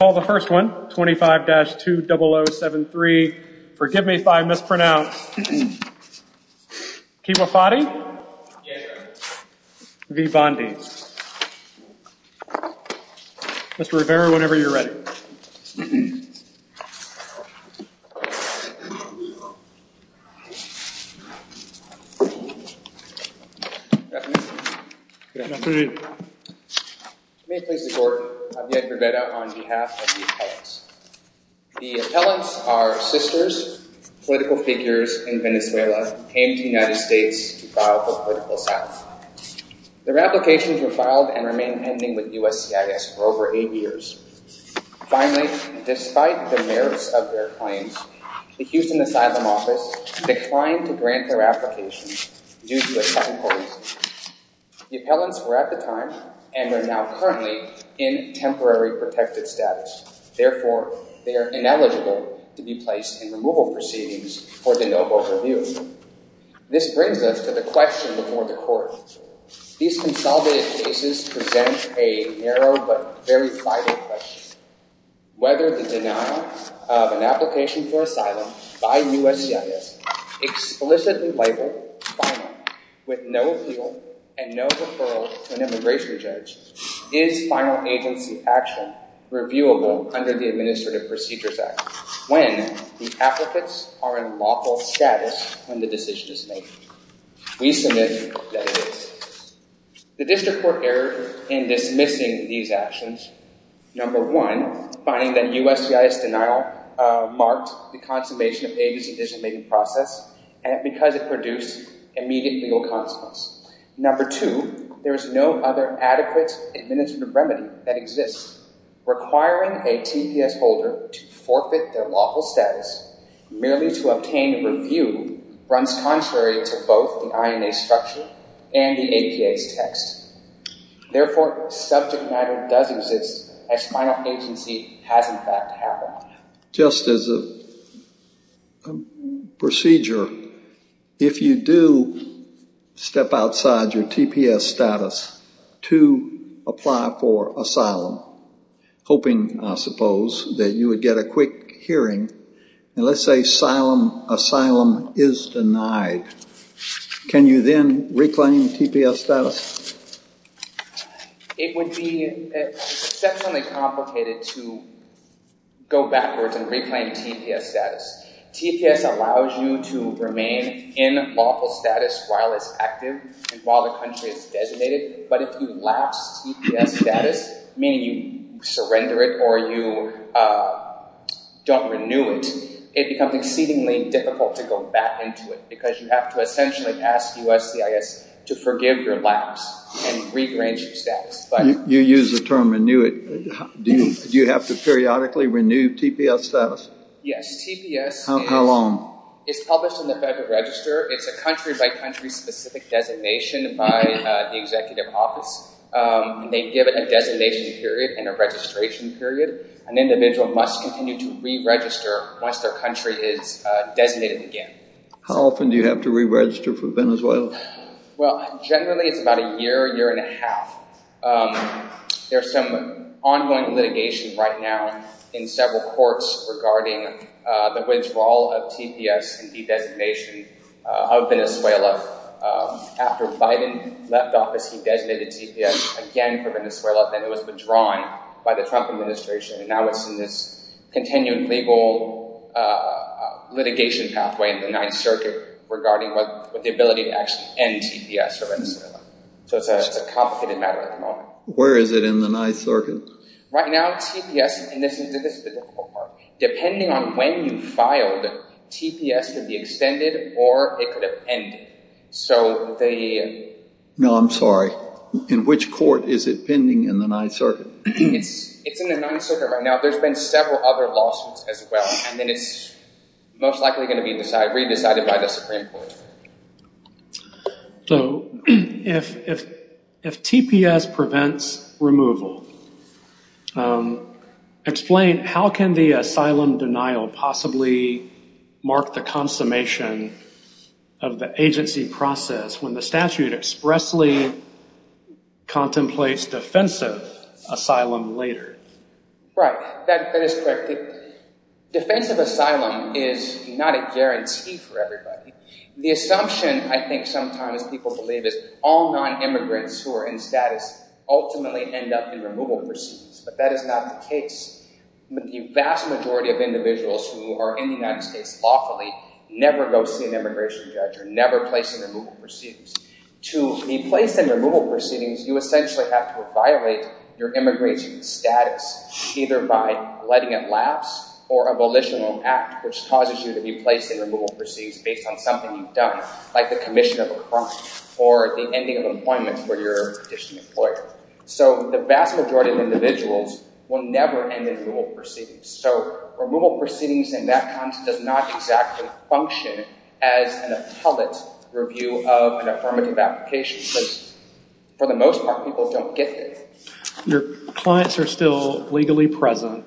I'll call the first one, 25-20073, forgive me if I mispronounce, Kewayfati v. Bondi. Mr. Rivera, whenever you're ready. Good afternoon. Good afternoon. May it please the court, Javier Rivera on behalf of the appellants. The appellants are sisters, political figures in Venezuela who came to the United States to file for political asylum. Their applications were filed and remained pending with USCIS for over eight years. Finally, despite the merits of their claims, the Houston Asylum Office declined to grant their applications due to a second voice. The appellants were at the time and are now currently in temporary protected status. Therefore, they are ineligible to be placed in removal proceedings for the no vote review. This brings us to the question before the court. These consolidated cases present a narrow but very vital question. Whether the denial of an application for asylum by USCIS, explicitly labeled final, with no appeal and no referral to an immigration judge, is final agency action reviewable under the Administrative Procedures Act when the applicants are in lawful status when the decision is made? We submit that it is. The district court erred in dismissing these actions. Number one, finding that USCIS denial marked the consummation of Avis' decision-making process because it produced immediate legal consequences. Number two, there is no other adequate administrative remedy that exists. Requiring a TPS holder to forfeit their lawful status merely to obtain a review runs contrary to both the INA structure and the APA's text. Therefore, subject matter does exist as final agency has in fact happened. Just as a procedure, if you do step outside your TPS status to apply for asylum, hoping, I suppose, that you would get a quick hearing, and let's say asylum is denied, can you then reclaim TPS status? It would be exceptionally complicated to go backwards and reclaim TPS status. TPS allows you to remain in lawful status while it's active and while the country is designated. But if you lapse TPS status, meaning you surrender it or you don't renew it, it becomes exceedingly difficult to go back into it because you have to essentially ask USCIS to forgive your lapse and regrange your status. You use the term renew it. Do you have to periodically renew TPS status? Yes, TPS is published in the Federal Register. It's a country-by-country specific designation by the executive office. They give it a designation period and a registration period. An individual must continue to re-register once their country is designated again. How often do you have to re-register for Venezuela? Well, generally it's about a year, year and a half. There's some ongoing litigation right now in several courts regarding the withdrawal of TPS and de-designation of Venezuela. After Biden left office, he designated TPS again for Venezuela, then it was withdrawn by the Trump administration. Now it's in this continued legal litigation pathway in the Ninth Circuit regarding the ability to actually end TPS for Venezuela. So it's a complicated matter at the moment. Where is it in the Ninth Circuit? Right now TPS, and this is the difficult part, depending on when you filed, TPS could be extended or it could have ended. No, I'm sorry. In which court is it pending in the Ninth Circuit? It's in the Ninth Circuit right now. There's been several other lawsuits as well. And then it's most likely going to be re-decided by the Supreme Court. So if TPS prevents removal, explain how can the asylum denial possibly mark the consummation of the agency process when the statute expressly contemplates defensive asylum later? Right, that is correct. Defensive asylum is not a guarantee for everybody. The assumption I think sometimes people believe is all non-immigrants who are in status ultimately end up in removal proceedings, but that is not the case. The vast majority of individuals who are in the United States lawfully never go see an immigration judge or never place in removal proceedings. To be placed in removal proceedings, you essentially have to violate your immigration status either by letting it lapse or a volitional act which causes you to be placed in removal proceedings based on something you've done, like the commission of a crime or the ending of employment for your additional employer. So the vast majority of individuals will never end in removal proceedings. So removal proceedings in that context does not exactly function as an appellate review of an affirmative application. For the most part, people don't get this. Your clients are still legally present,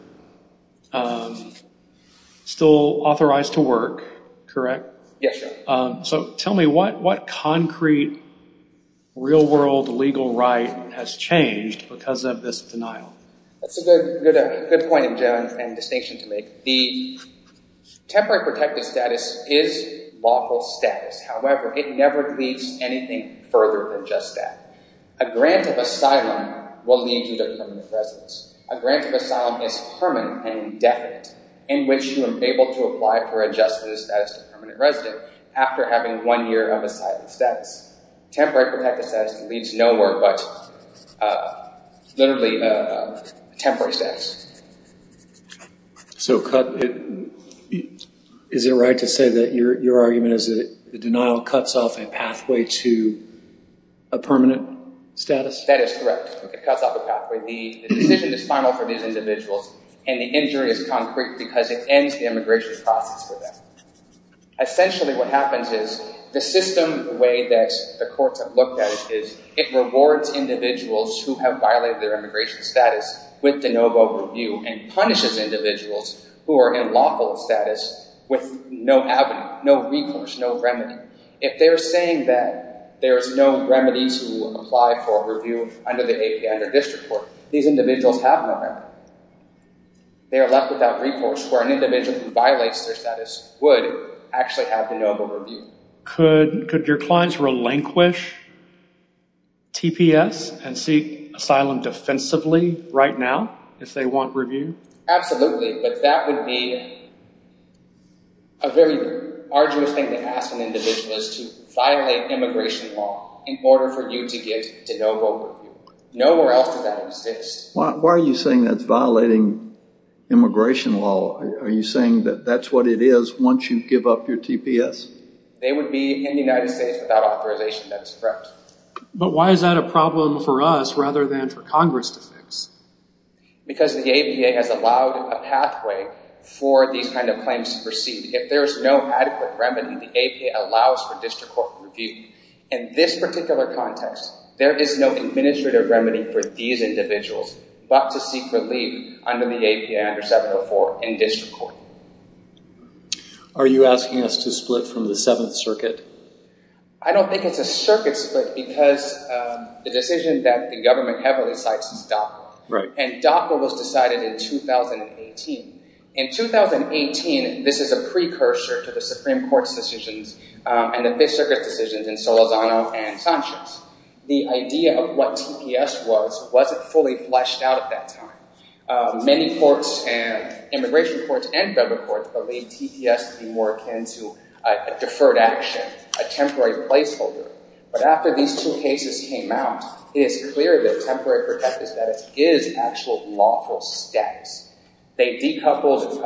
still authorized to work, correct? Yes, sir. So tell me what concrete real-world legal right has changed because of this denial? That's a good point, Joan, and distinction to make. The temporary protected status is lawful status. However, it never leads anything further than just that. A grant of asylum will lead you to permanent residence. A grant of asylum is permanent and indefinite in which you are able to apply for adjusted status to permanent residence after having one year of asylum status. Temporary protected status leads nowhere but literally temporary status. So is it right to say that your argument is that the denial cuts off a pathway to a permanent status? That is correct. It cuts off a pathway. The decision is final for these individuals, and the injury is concrete because it ends the immigration process for them. Essentially what happens is the system way that the courts have looked at it is it rewards individuals who have violated their immigration status with de novo review and punishes individuals who are in lawful status with no avenue, no recourse, no remedy. If they're saying that there's no remedy to apply for a review under the APA, under district court, these individuals have no remedy. They are left without recourse where an individual who violates their status would actually have de novo review. Could your clients relinquish TPS and seek asylum defensively right now if they want review? Absolutely, but that would be a very arduous thing to ask an individual is to violate immigration law in order for you to get de novo review. Nowhere else does that exist. Why are you saying that's violating immigration law? Are you saying that that's what it is once you give up your TPS? They would be in the United States without authorization. That's correct. But why is that a problem for us rather than for Congress to fix? Because the APA has allowed a pathway for these kind of claims to proceed. If there's no adequate remedy, the APA allows for district court review. In this particular context, there is no administrative remedy for these individuals but to seek relief under the APA, under 704, in district court. Are you asking us to split from the Seventh Circuit? I don't think it's a circuit split because the decision that the government heavily cites is DACA. Right. And DACA was decided in 2018. In 2018, this is a precursor to the Supreme Court's decisions and the Fifth Circuit's decisions in Solazano and Sanchez. The idea of what TPS was wasn't fully fleshed out at that time. Many courts and immigration courts and federal courts believe TPS to be more akin to a deferred action, a temporary placeholder. But after these two cases came out, it is clear that temporary protect is that it is actual lawful status. They decoupled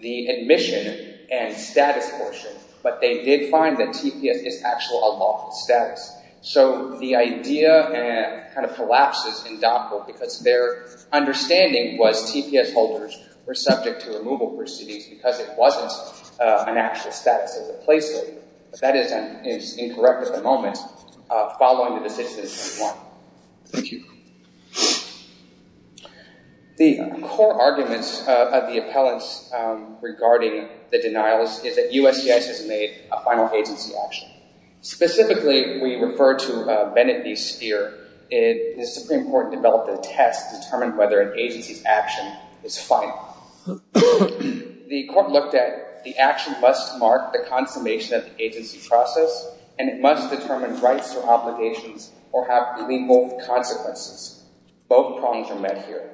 the admission and status portion, but they did find that TPS is actual unlawful status. So the idea kind of collapses in DACA because their understanding was TPS holders were subject to removal proceedings because it wasn't an actual status as a placeholder. But that is incorrect at the moment following the decision in 21. Thank you. The core arguments of the appellants regarding the denial is that USCIS has made a final agency action. Specifically, we refer to Bennett v. Speer. The Supreme Court developed a test to determine whether an agency's action is final. The court looked at the action must mark the consummation of the agency process, and it must determine rights or obligations or have illegal consequences. Both problems are met here.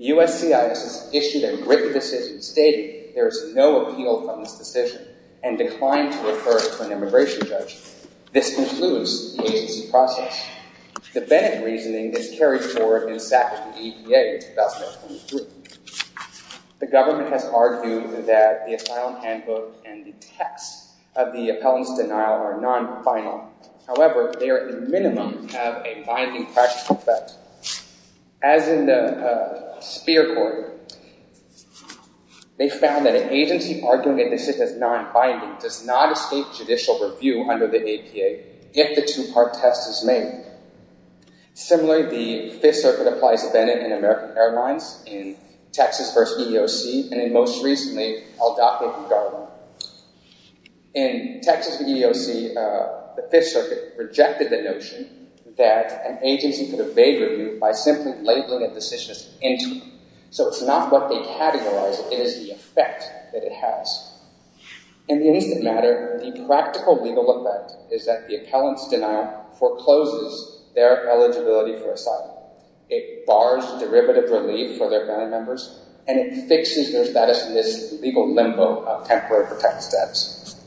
USCIS has issued a written decision stating there is no appeal from this decision and declined to refer it to an immigration judge. This concludes the agency process. The Bennett reasoning is carried forward in Sackett v. APA in 2023. The government has argued that the asylum handbook and the text of the appellant's denial are non-final. However, they are at the minimum have a binding practical effect. As in the Speer court, they found that an agency arguing that this is non-binding does not escape judicial review under the APA if the two-part test is made. Similarly, the Fifth Circuit applies to Bennett and American Airlines in Texas v. EEOC and, most recently, Aldoca v. Garland. In Texas v. EEOC, the Fifth Circuit rejected the notion that an agency could evade review by simply labeling a decision as interim. So it's not what they categorize, it is the effect that it has. In the instant matter, the practical legal effect is that the appellant's denial forecloses their eligibility for asylum. It bars derivative relief for their family members and it fixes their status in this legal limbo of temporary protected status.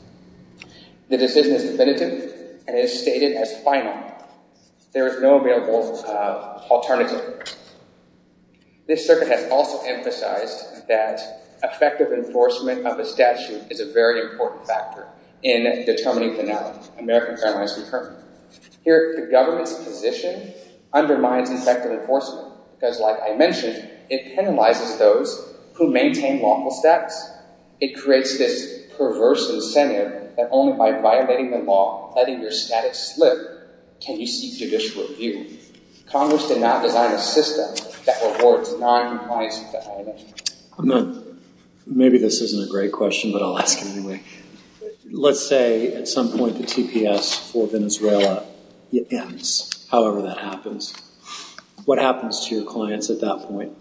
The decision is definitive and it is stated as final. There is no available alternative. This circuit has also emphasized that effective enforcement of a statute is a very important factor in determining the American Airlines return. Here, the government's position undermines effective enforcement because, like I mentioned, it penalizes those who maintain lawful status. It creates this perverse incendiary that only by violating the law, letting your status slip, can you seek judicial review. Congress did not design a system that rewards non-compliance with that. Maybe this isn't a great question, but I'll ask it anyway. Let's say at some point the TPS for Venezuela ends, however that happens. What happens to your clients at that point?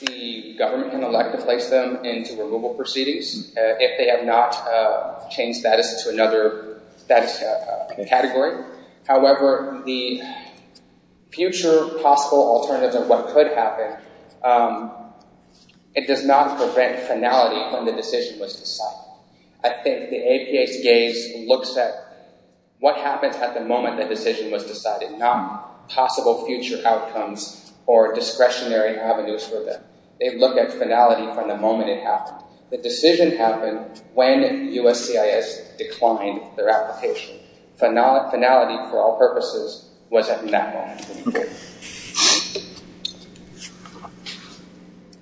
The government can elect to place them into removal proceedings if they have not changed status to another category. However, the future possible alternatives of what could happen, it does not prevent finality when the decision was decided. I think the APA's gaze looks at what happens at the moment the decision was decided, not possible future outcomes or discretionary avenues for them. They look at finality from the moment it happened. The decision happened when USCIS declined their application. Finality, for all purposes, was at that moment.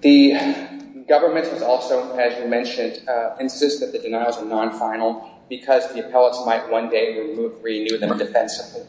The government has also, as you mentioned, insisted that the denials are non-final because the appellants might one day renew them defensively.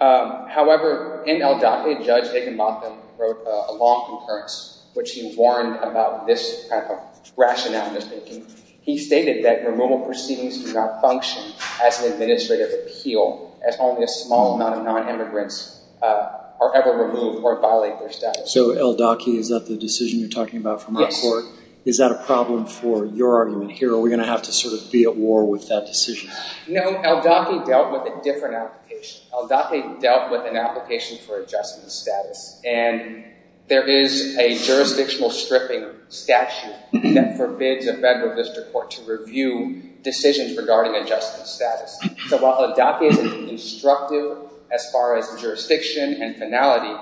However, in El Date, Judge Higginbotham wrote a long concurrence, which he warned about this kind of rationality. He stated that removal proceedings do not function as an administrative appeal as only a small amount of non-immigrants are ever removed or violate their status. So El Date, is that the decision you're talking about from my court? Yes. Is that a problem for your argument here? Are we going to have to sort of be at war with that decision? No, El Date dealt with a different application. El Date dealt with an application for adjustment of status. And there is a jurisdictional stripping statute that forbids a federal district court to review decisions regarding adjustment status. So while El Date is instructive as far as jurisdiction and finality,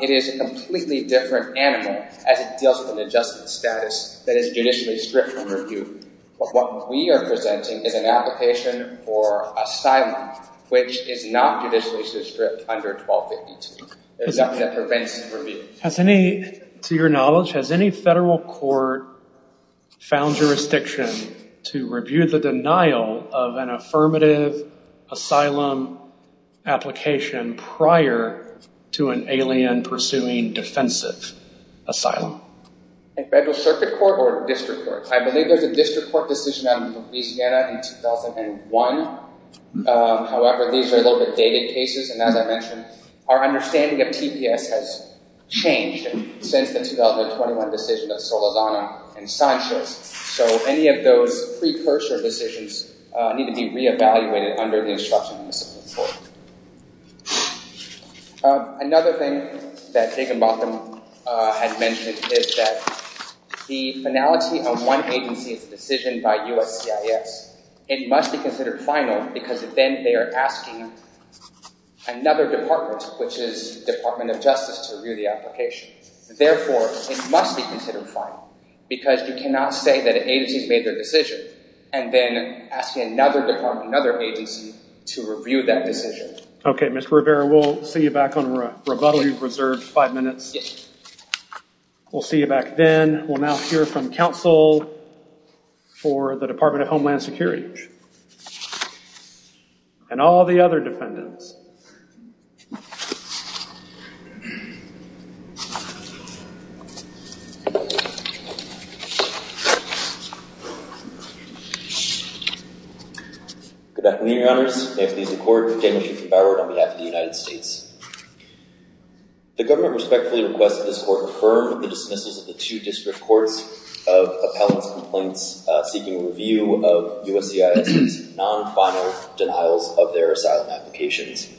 it is a completely different animal as it deals with an adjustment status that is judicially stripped from review. But what we are presenting is an application for asylum, which is not judicially stripped under 1252. There's nothing that prevents review. To your knowledge, has any federal court found jurisdiction to review the denial of an affirmative asylum application prior to an alien pursuing defensive asylum? Federal circuit court or district court? I believe there's a district court decision on Louisiana in 2001. However, these are a little bit dated cases. And as I mentioned, our understanding of TPS has changed since the 2021 decision of Solazano and Sanchez. So any of those precursor decisions need to be reevaluated under the instruction of the civil court. Another thing that Jacob Mothman had mentioned is that the finality of one agency's decision by USCIS, it must be considered final because then they are asking another department, which is Department of Justice, to review the application. Therefore, it must be considered final because you cannot say that an agency's made their decision and then asking another department, another agency, to review that decision. Okay, Mr. Rivera, we'll see you back on rebuttal. You've reserved five minutes. Yes. We'll see you back then. We'll now hear from counsel for the Department of Homeland Security and all the other defendants. Good afternoon, your honors. May it please the court. Daniel Shukin, by the word, on behalf of the United States. The government respectfully requests that this court affirm the dismissals of the two district courts of appellant's complaints seeking review of USCIS's non-final denials of their asylum applications.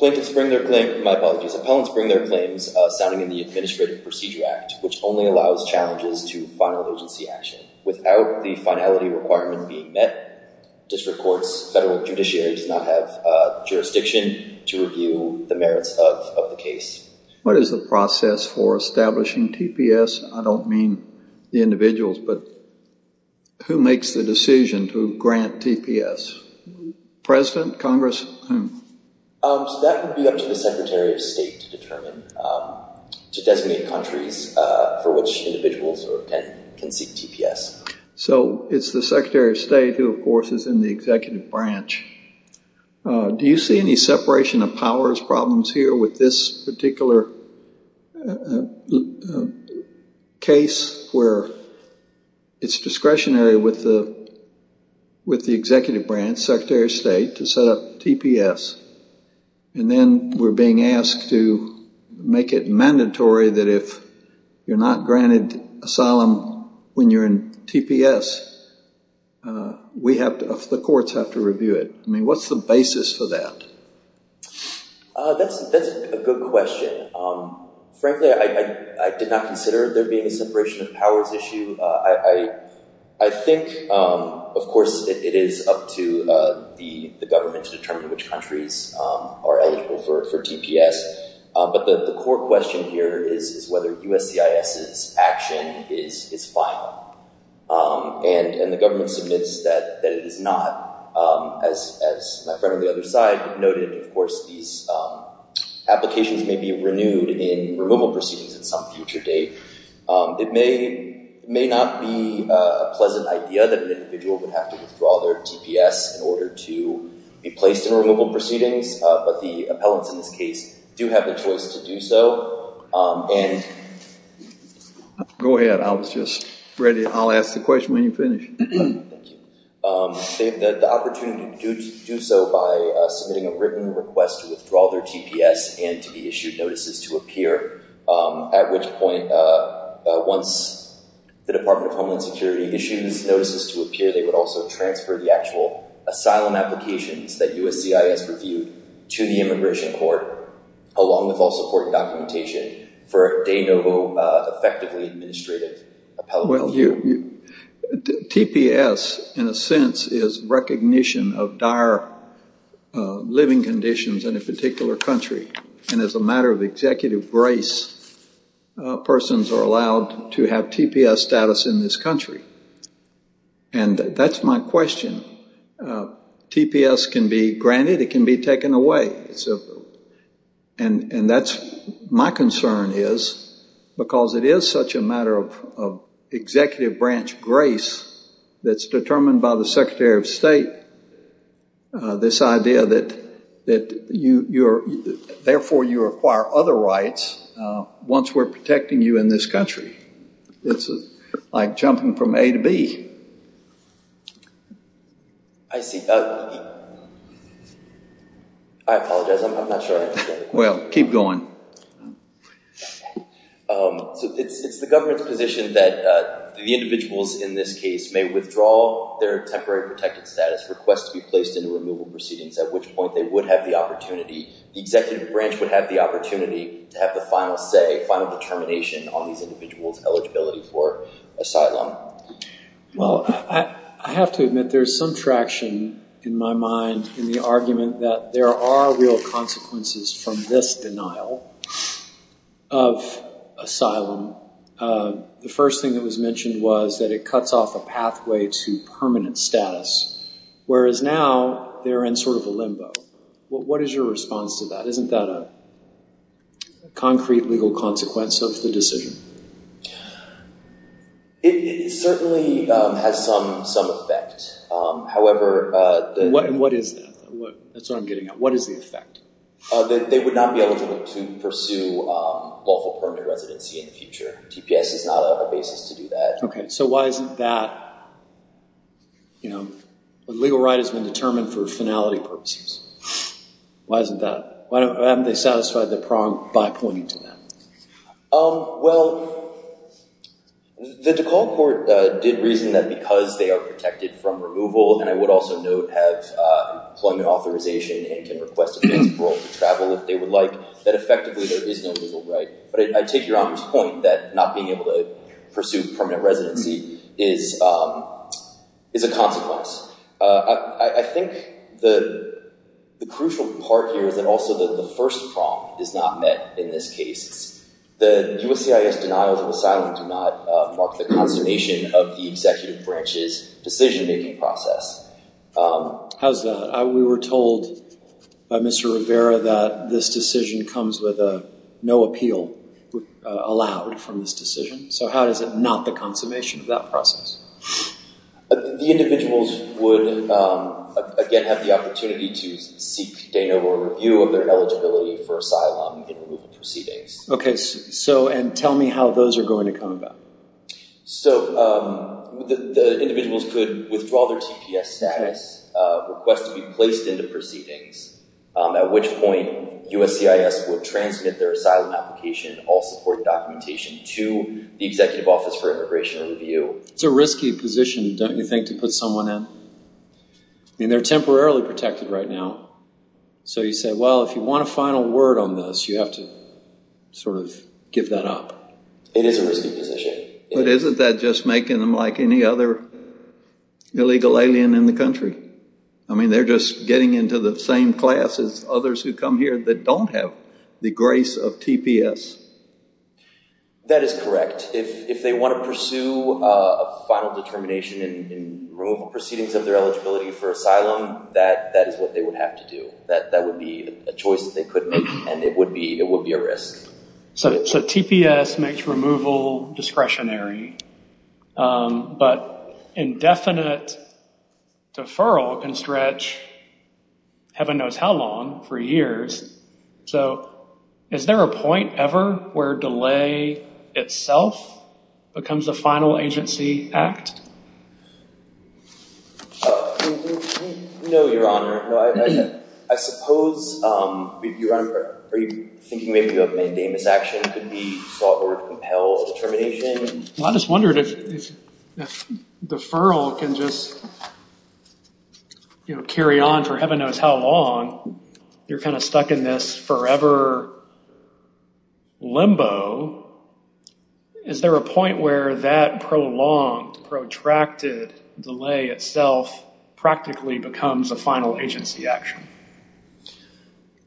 My apologies. Appellants bring their claims sounding in the Administrative Procedure Act, which only allows challenges to final agency action. Without the finality requirement being met, district courts, federal judiciary, does not have jurisdiction to review the merits of the case. What is the process for establishing TPS? I don't mean the individuals, but who makes the decision to grant TPS? President, Congress? That would be up to the Secretary of State to determine, to designate countries for which individuals can seek TPS. So it's the Secretary of State who, of course, is in the executive branch. Do you see any separation of powers problems here with this particular case where it's discretionary with the executive branch, Secretary of State, to set up TPS? And then we're being asked to make it mandatory that if you're not granted asylum when you're in TPS, the courts have to review it. I mean, what's the basis for that? That's a good question. Frankly, I did not consider there being a separation of powers issue. I think, of course, it is up to the government to determine which countries are eligible for TPS. But the core question here is whether USCIS's action is final. And the government submits that it is not. As my friend on the other side noted, of course, these applications may be renewed in removal proceedings at some future date. It may not be a pleasant idea that an individual would have to withdraw their TPS in order to be placed in removal proceedings. But the appellants in this case do have the choice to do so. Go ahead. I was just ready. I'll ask the question when you finish. They have the opportunity to do so by submitting a written request to withdraw their TPS and to be issued notices to appear. At which point, once the Department of Homeland Security issues notices to appear, they would also transfer the actual asylum applications that USCIS reviewed to the Immigration Court, along with all supporting documentation, for a de novo, effectively administrative appellate review. TPS, in a sense, is recognition of dire living conditions in a particular country. And as a matter of executive grace, persons are allowed to have TPS status in this country. And that's my question. TPS can be granted. It can be taken away. And my concern is, because it is such a matter of executive branch grace that's determined by the Secretary of State, this idea that therefore you acquire other rights once we're protecting you in this country. It's like jumping from A to B. I see. I apologize. I'm not sure I understand. Well, keep going. So it's the government's position that the individuals in this case may withdraw their temporary protected status, request to be placed into removal proceedings, at which point they would have the opportunity, the executive branch would have the opportunity to have the final say, final determination on these individuals' eligibility for asylum. Well, I have to admit there's some traction in my mind in the argument that there are real consequences from this denial of asylum. The first thing that was mentioned was that it cuts off a pathway to permanent status, whereas now they're in sort of a limbo. What is your response to that? Isn't that a concrete legal consequence of the decision? It certainly has some effect. However— And what is that? That's what I'm getting at. What is the effect? They would not be eligible to pursue lawful permanent residency in the future. TPS is not a basis to do that. Okay. So why isn't that—you know, a legal right has been determined for finality purposes. Why isn't that—why haven't they satisfied the prong by pointing to that? Well, the DeKalb Court did reason that because they are protected from removal, and I would also note have employment authorization and can request a visa for all to travel if they would like, that effectively there is no legal right. But I take Your Honor's point that not being able to pursue permanent residency is a consequence. I think the crucial part here is that also the first prong is not met in this case. The USCIS denials of asylum do not mark the consummation of the executive branch's decision-making process. How's that? We were told by Mr. Rivera that this decision comes with no appeal allowed from this decision. So how is it not the consummation of that process? The individuals would, again, have the opportunity to seek deno or review of their eligibility for asylum in removal proceedings. Okay. So—and tell me how those are going to come about. So the individuals could withdraw their TPS status, request to be placed into proceedings, at which point USCIS would transmit their asylum application, all support documentation to the Executive Office for Immigration Review. It's a risky position, don't you think, to put someone in? I mean, they're temporarily protected right now. So you say, well, if you want a final word on this, you have to sort of give that up. It is a risky position. But isn't that just making them like any other illegal alien in the country? I mean, they're just getting into the same class as others who come here that don't have the grace of TPS. That is correct. If they want to pursue a final determination in removal proceedings of their eligibility for asylum, that is what they would have to do. That would be a choice that they could make, and it would be a risk. So TPS makes removal discretionary, but indefinite deferral can stretch heaven knows how long, for years. So is there a point ever where delay itself becomes a final agency act? No, Your Honor. I suppose, Your Honor, are you thinking maybe a mandamus action could be sought or compel determination? Well, I just wondered if deferral can just carry on for heaven knows how long. You're kind of stuck in this forever limbo. Is there a point where that prolonged, protracted delay itself practically becomes a final agency action?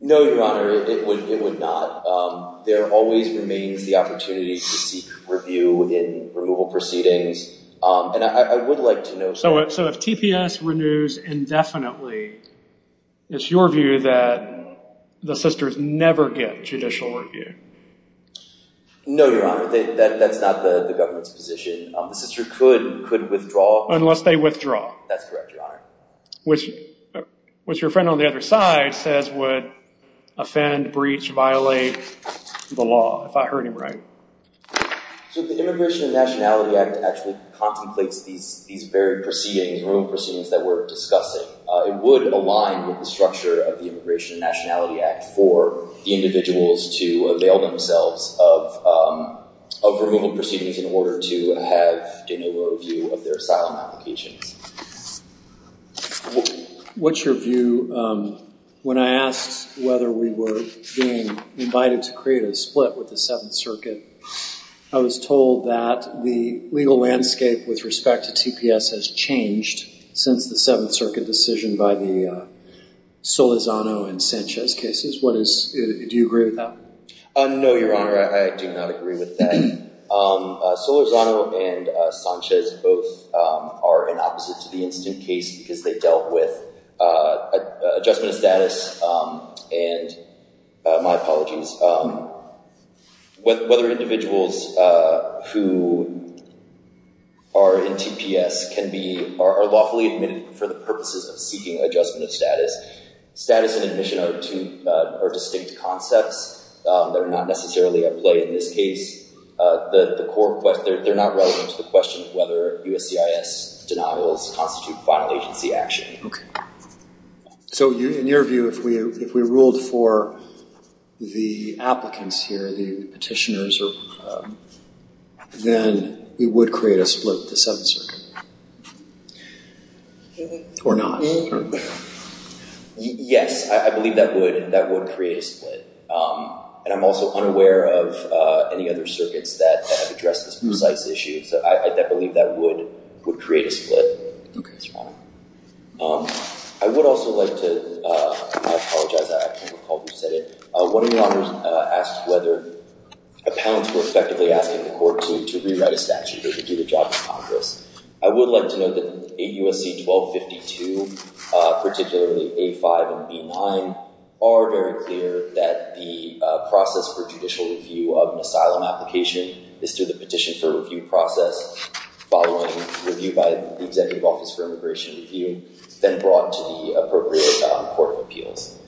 No, Your Honor, it would not. There always remains the opportunity to seek review in removal proceedings, and I would like to know. So if TPS renews indefinitely, it's your view that the sisters never get judicial review? No, Your Honor, that's not the government's position. The sister could withdraw. Unless they withdraw. That's correct, Your Honor. Which your friend on the other side says would offend, breach, violate the law, if I heard him right. So the Immigration and Nationality Act actually contemplates these varied proceedings, removal proceedings that we're discussing. It would align with the structure of the Immigration and Nationality Act for the individuals to avail themselves of removal proceedings in order to have de novo review of their asylum applications. What's your view? When I asked whether we were being invited to create a split with the Seventh Circuit, I was told that the legal landscape with respect to TPS has changed since the Seventh Circuit decision by the Solizano and Sanchez cases. Do you agree with that? No, Your Honor, I do not agree with that. Solizano and Sanchez both are in opposite to the Institute case because they dealt with adjustment of status. And my apologies. Whether individuals who are in TPS are lawfully admitted for the purposes of seeking adjustment of status, status and admission are two distinct concepts that are not necessarily at play in this case. They're not relevant to the question of whether USCIS denials constitute final agency action. So in your view, if we ruled for the applicants here, the petitioners, then we would create a split with the Seventh Circuit. Or not. Yes, I believe that would create a split. And I'm also unaware of any other circuits that address this precise issue. So I believe that would create a split. Okay, Your Honor. I would also like to apologize. I can't recall who said it. One of Your Honors asked whether appellants were effectively asking the court to rewrite a statute or to do the job in Congress. I would like to note that 8 U.S.C. 1252, particularly A5 and B9, are very clear that the process for judicial review of an asylum application is through the petition for review process, following review by the Executive Office for Immigration Review, then brought to the appropriate court of appeals.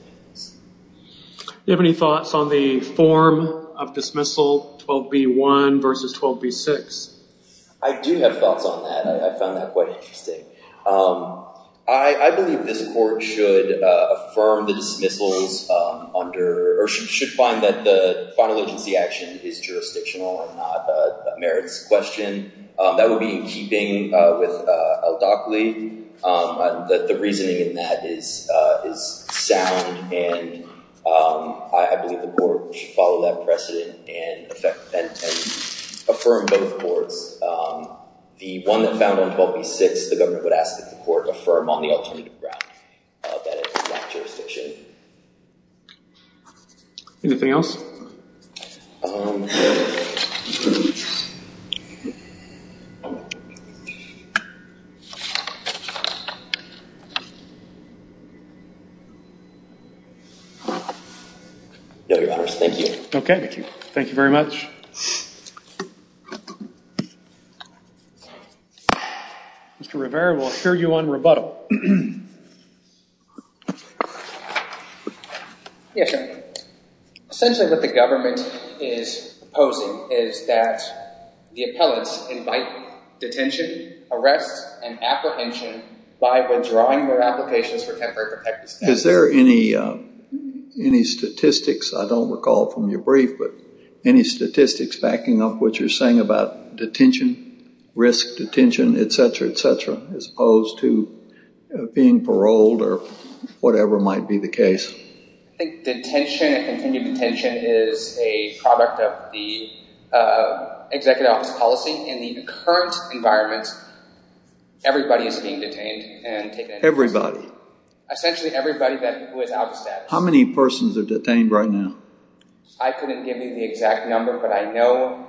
Do you have any thoughts on the form of dismissal, 12B1 versus 12B6? I do have thoughts on that. I found that quite interesting. I believe this court should affirm the dismissals under, or should find that the final agency action is jurisdictional and not a merits question. That would be in keeping with ALDACLI. The reasoning in that is sound, and I believe the court should follow that precedent and affirm both courts. The one that found on 12B6, the government would ask that the court affirm on the alternative ground, that it is not jurisdiction. Anything else? No, Your Honors. Thank you. Okay. Thank you very much. Mr. Rivera, we'll hear you on rebuttal. Yes, sir. Essentially what the government is proposing is that the appellates invite detention, arrest, and apprehension by withdrawing their applications for temporary protected status. Is there any statistics, I don't recall from your brief, but any statistics backing up what you're saying about detention, risk detention, et cetera, et cetera, as opposed to being paroled or whatever might be the case? I think detention and continued detention is a product of the Executive Office policy. In the current environment, everybody is being detained and taken into custody. Everybody? Essentially everybody who is out of status. How many persons are detained right now? I couldn't give you the exact number, but I know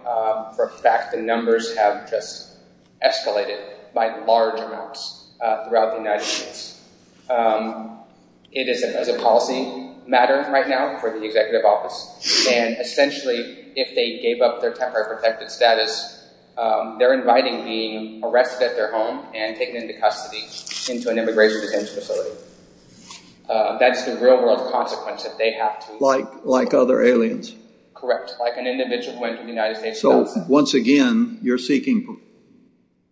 for a fact the numbers have just escalated by large amounts throughout the United States. It is a policy matter right now for the Executive Office, and essentially if they gave up their temporary protected status, they're inviting being arrested at their home and taken into custody into an immigration detention facility. That's the real world consequence that they have to- Like other aliens? Correct. Like an individual who went to the United States- So once again, you're seeking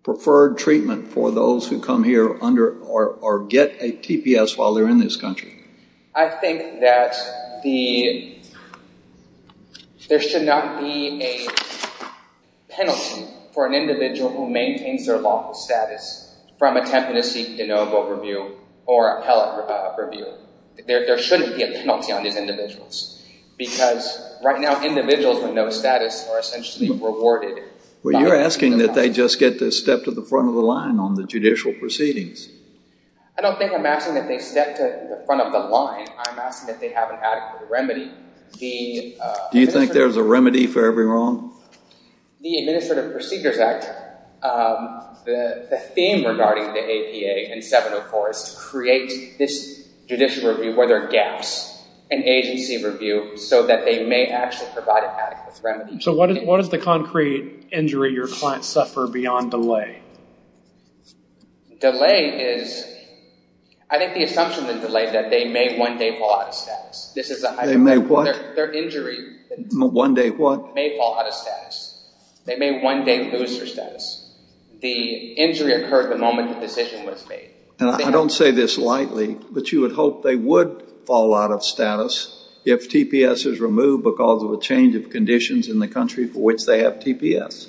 preferred treatment for those who come here or get a TPS while they're in this country? I think that there should not be a penalty for an individual who maintains their lawful status from attempting to seek de novo review or appellate review. There shouldn't be a penalty on these individuals because right now individuals with no status are essentially rewarded. Well, you're asking that they just get to step to the front of the line on the judicial proceedings. I don't think I'm asking that they step to the front of the line. I'm asking that they have an adequate remedy. Do you think there's a remedy for every wrong? The Administrative Procedures Act, the theme regarding the APA and 704 is to create this judicial review where there are gaps, an agency review so that they may actually provide an adequate remedy. So what is the concrete injury your clients suffer beyond delay? Delay is- I think the assumption is delay that they may one day fall out of status. They may what? Their injury- One day what? May fall out of status. They may one day lose their status. The injury occurred the moment the decision was made. I don't say this lightly, but you would hope they would fall out of status if TPS is removed because of a change of conditions in the country for which they have TPS?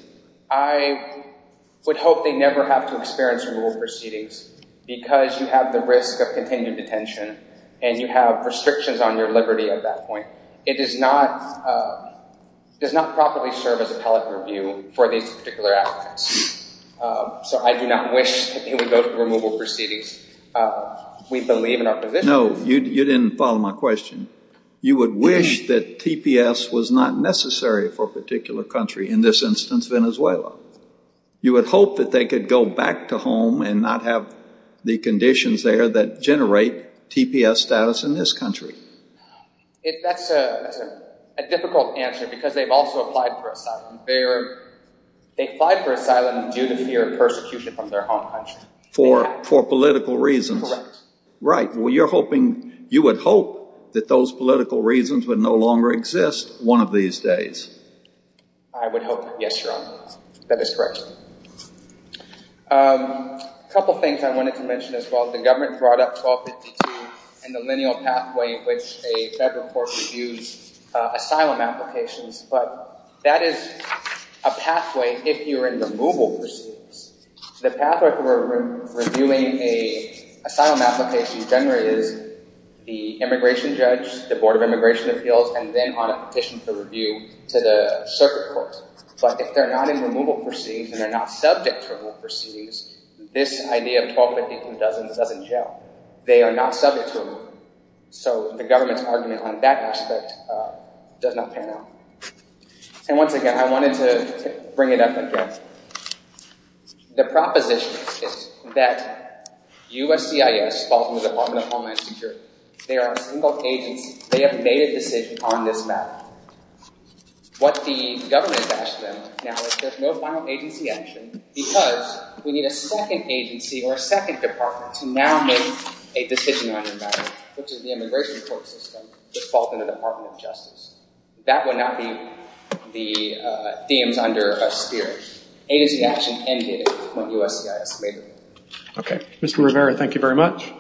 I would hope they never have to experience removal proceedings because you have the risk of continued detention and you have restrictions on your liberty at that point. It does not properly serve as appellate review for these particular applicants. So I do not wish that they would go through removal proceedings. We believe in our position- No, you didn't follow my question. You would wish that TPS was not necessary for a particular country, in this instance Venezuela. You would hope that they could go back to home and not have the conditions there that generate TPS status in this country. That's a difficult answer because they've also applied for asylum. They applied for asylum due to fear of persecution from their home country. For political reasons. Correct. Right. You would hope that those political reasons would no longer exist one of these days. I would hope that. Yes, Your Honor. That is correct. A couple things I wanted to mention as well. The government brought up 1252 and the lineal pathway in which a federal court reviews asylum applications, but that is a pathway if you're in removal proceedings. The pathway for reviewing an asylum application generally is the immigration judge, the board of immigration appeals, and then on a petition for review to the circuit court. But if they're not in removal proceedings and they're not subject to removal proceedings, this idea of 1252 doesn't gel. They are not subject to removal. So the government's argument on that aspect does not pan out. And once again, I wanted to bring it up again. The proposition is that USCIS falls in the Department of Homeland Security. They are a single agency. They have made a decision on this matter. What the government has asked them now is there's no final agency action because we need a second agency or a second department to now make a decision on the matter, which is the immigration court system that falls in the Department of Justice. That would not be the themes under us here. Agency action ended when USCIS made it. Okay. Mr. Rivera, thank you very much.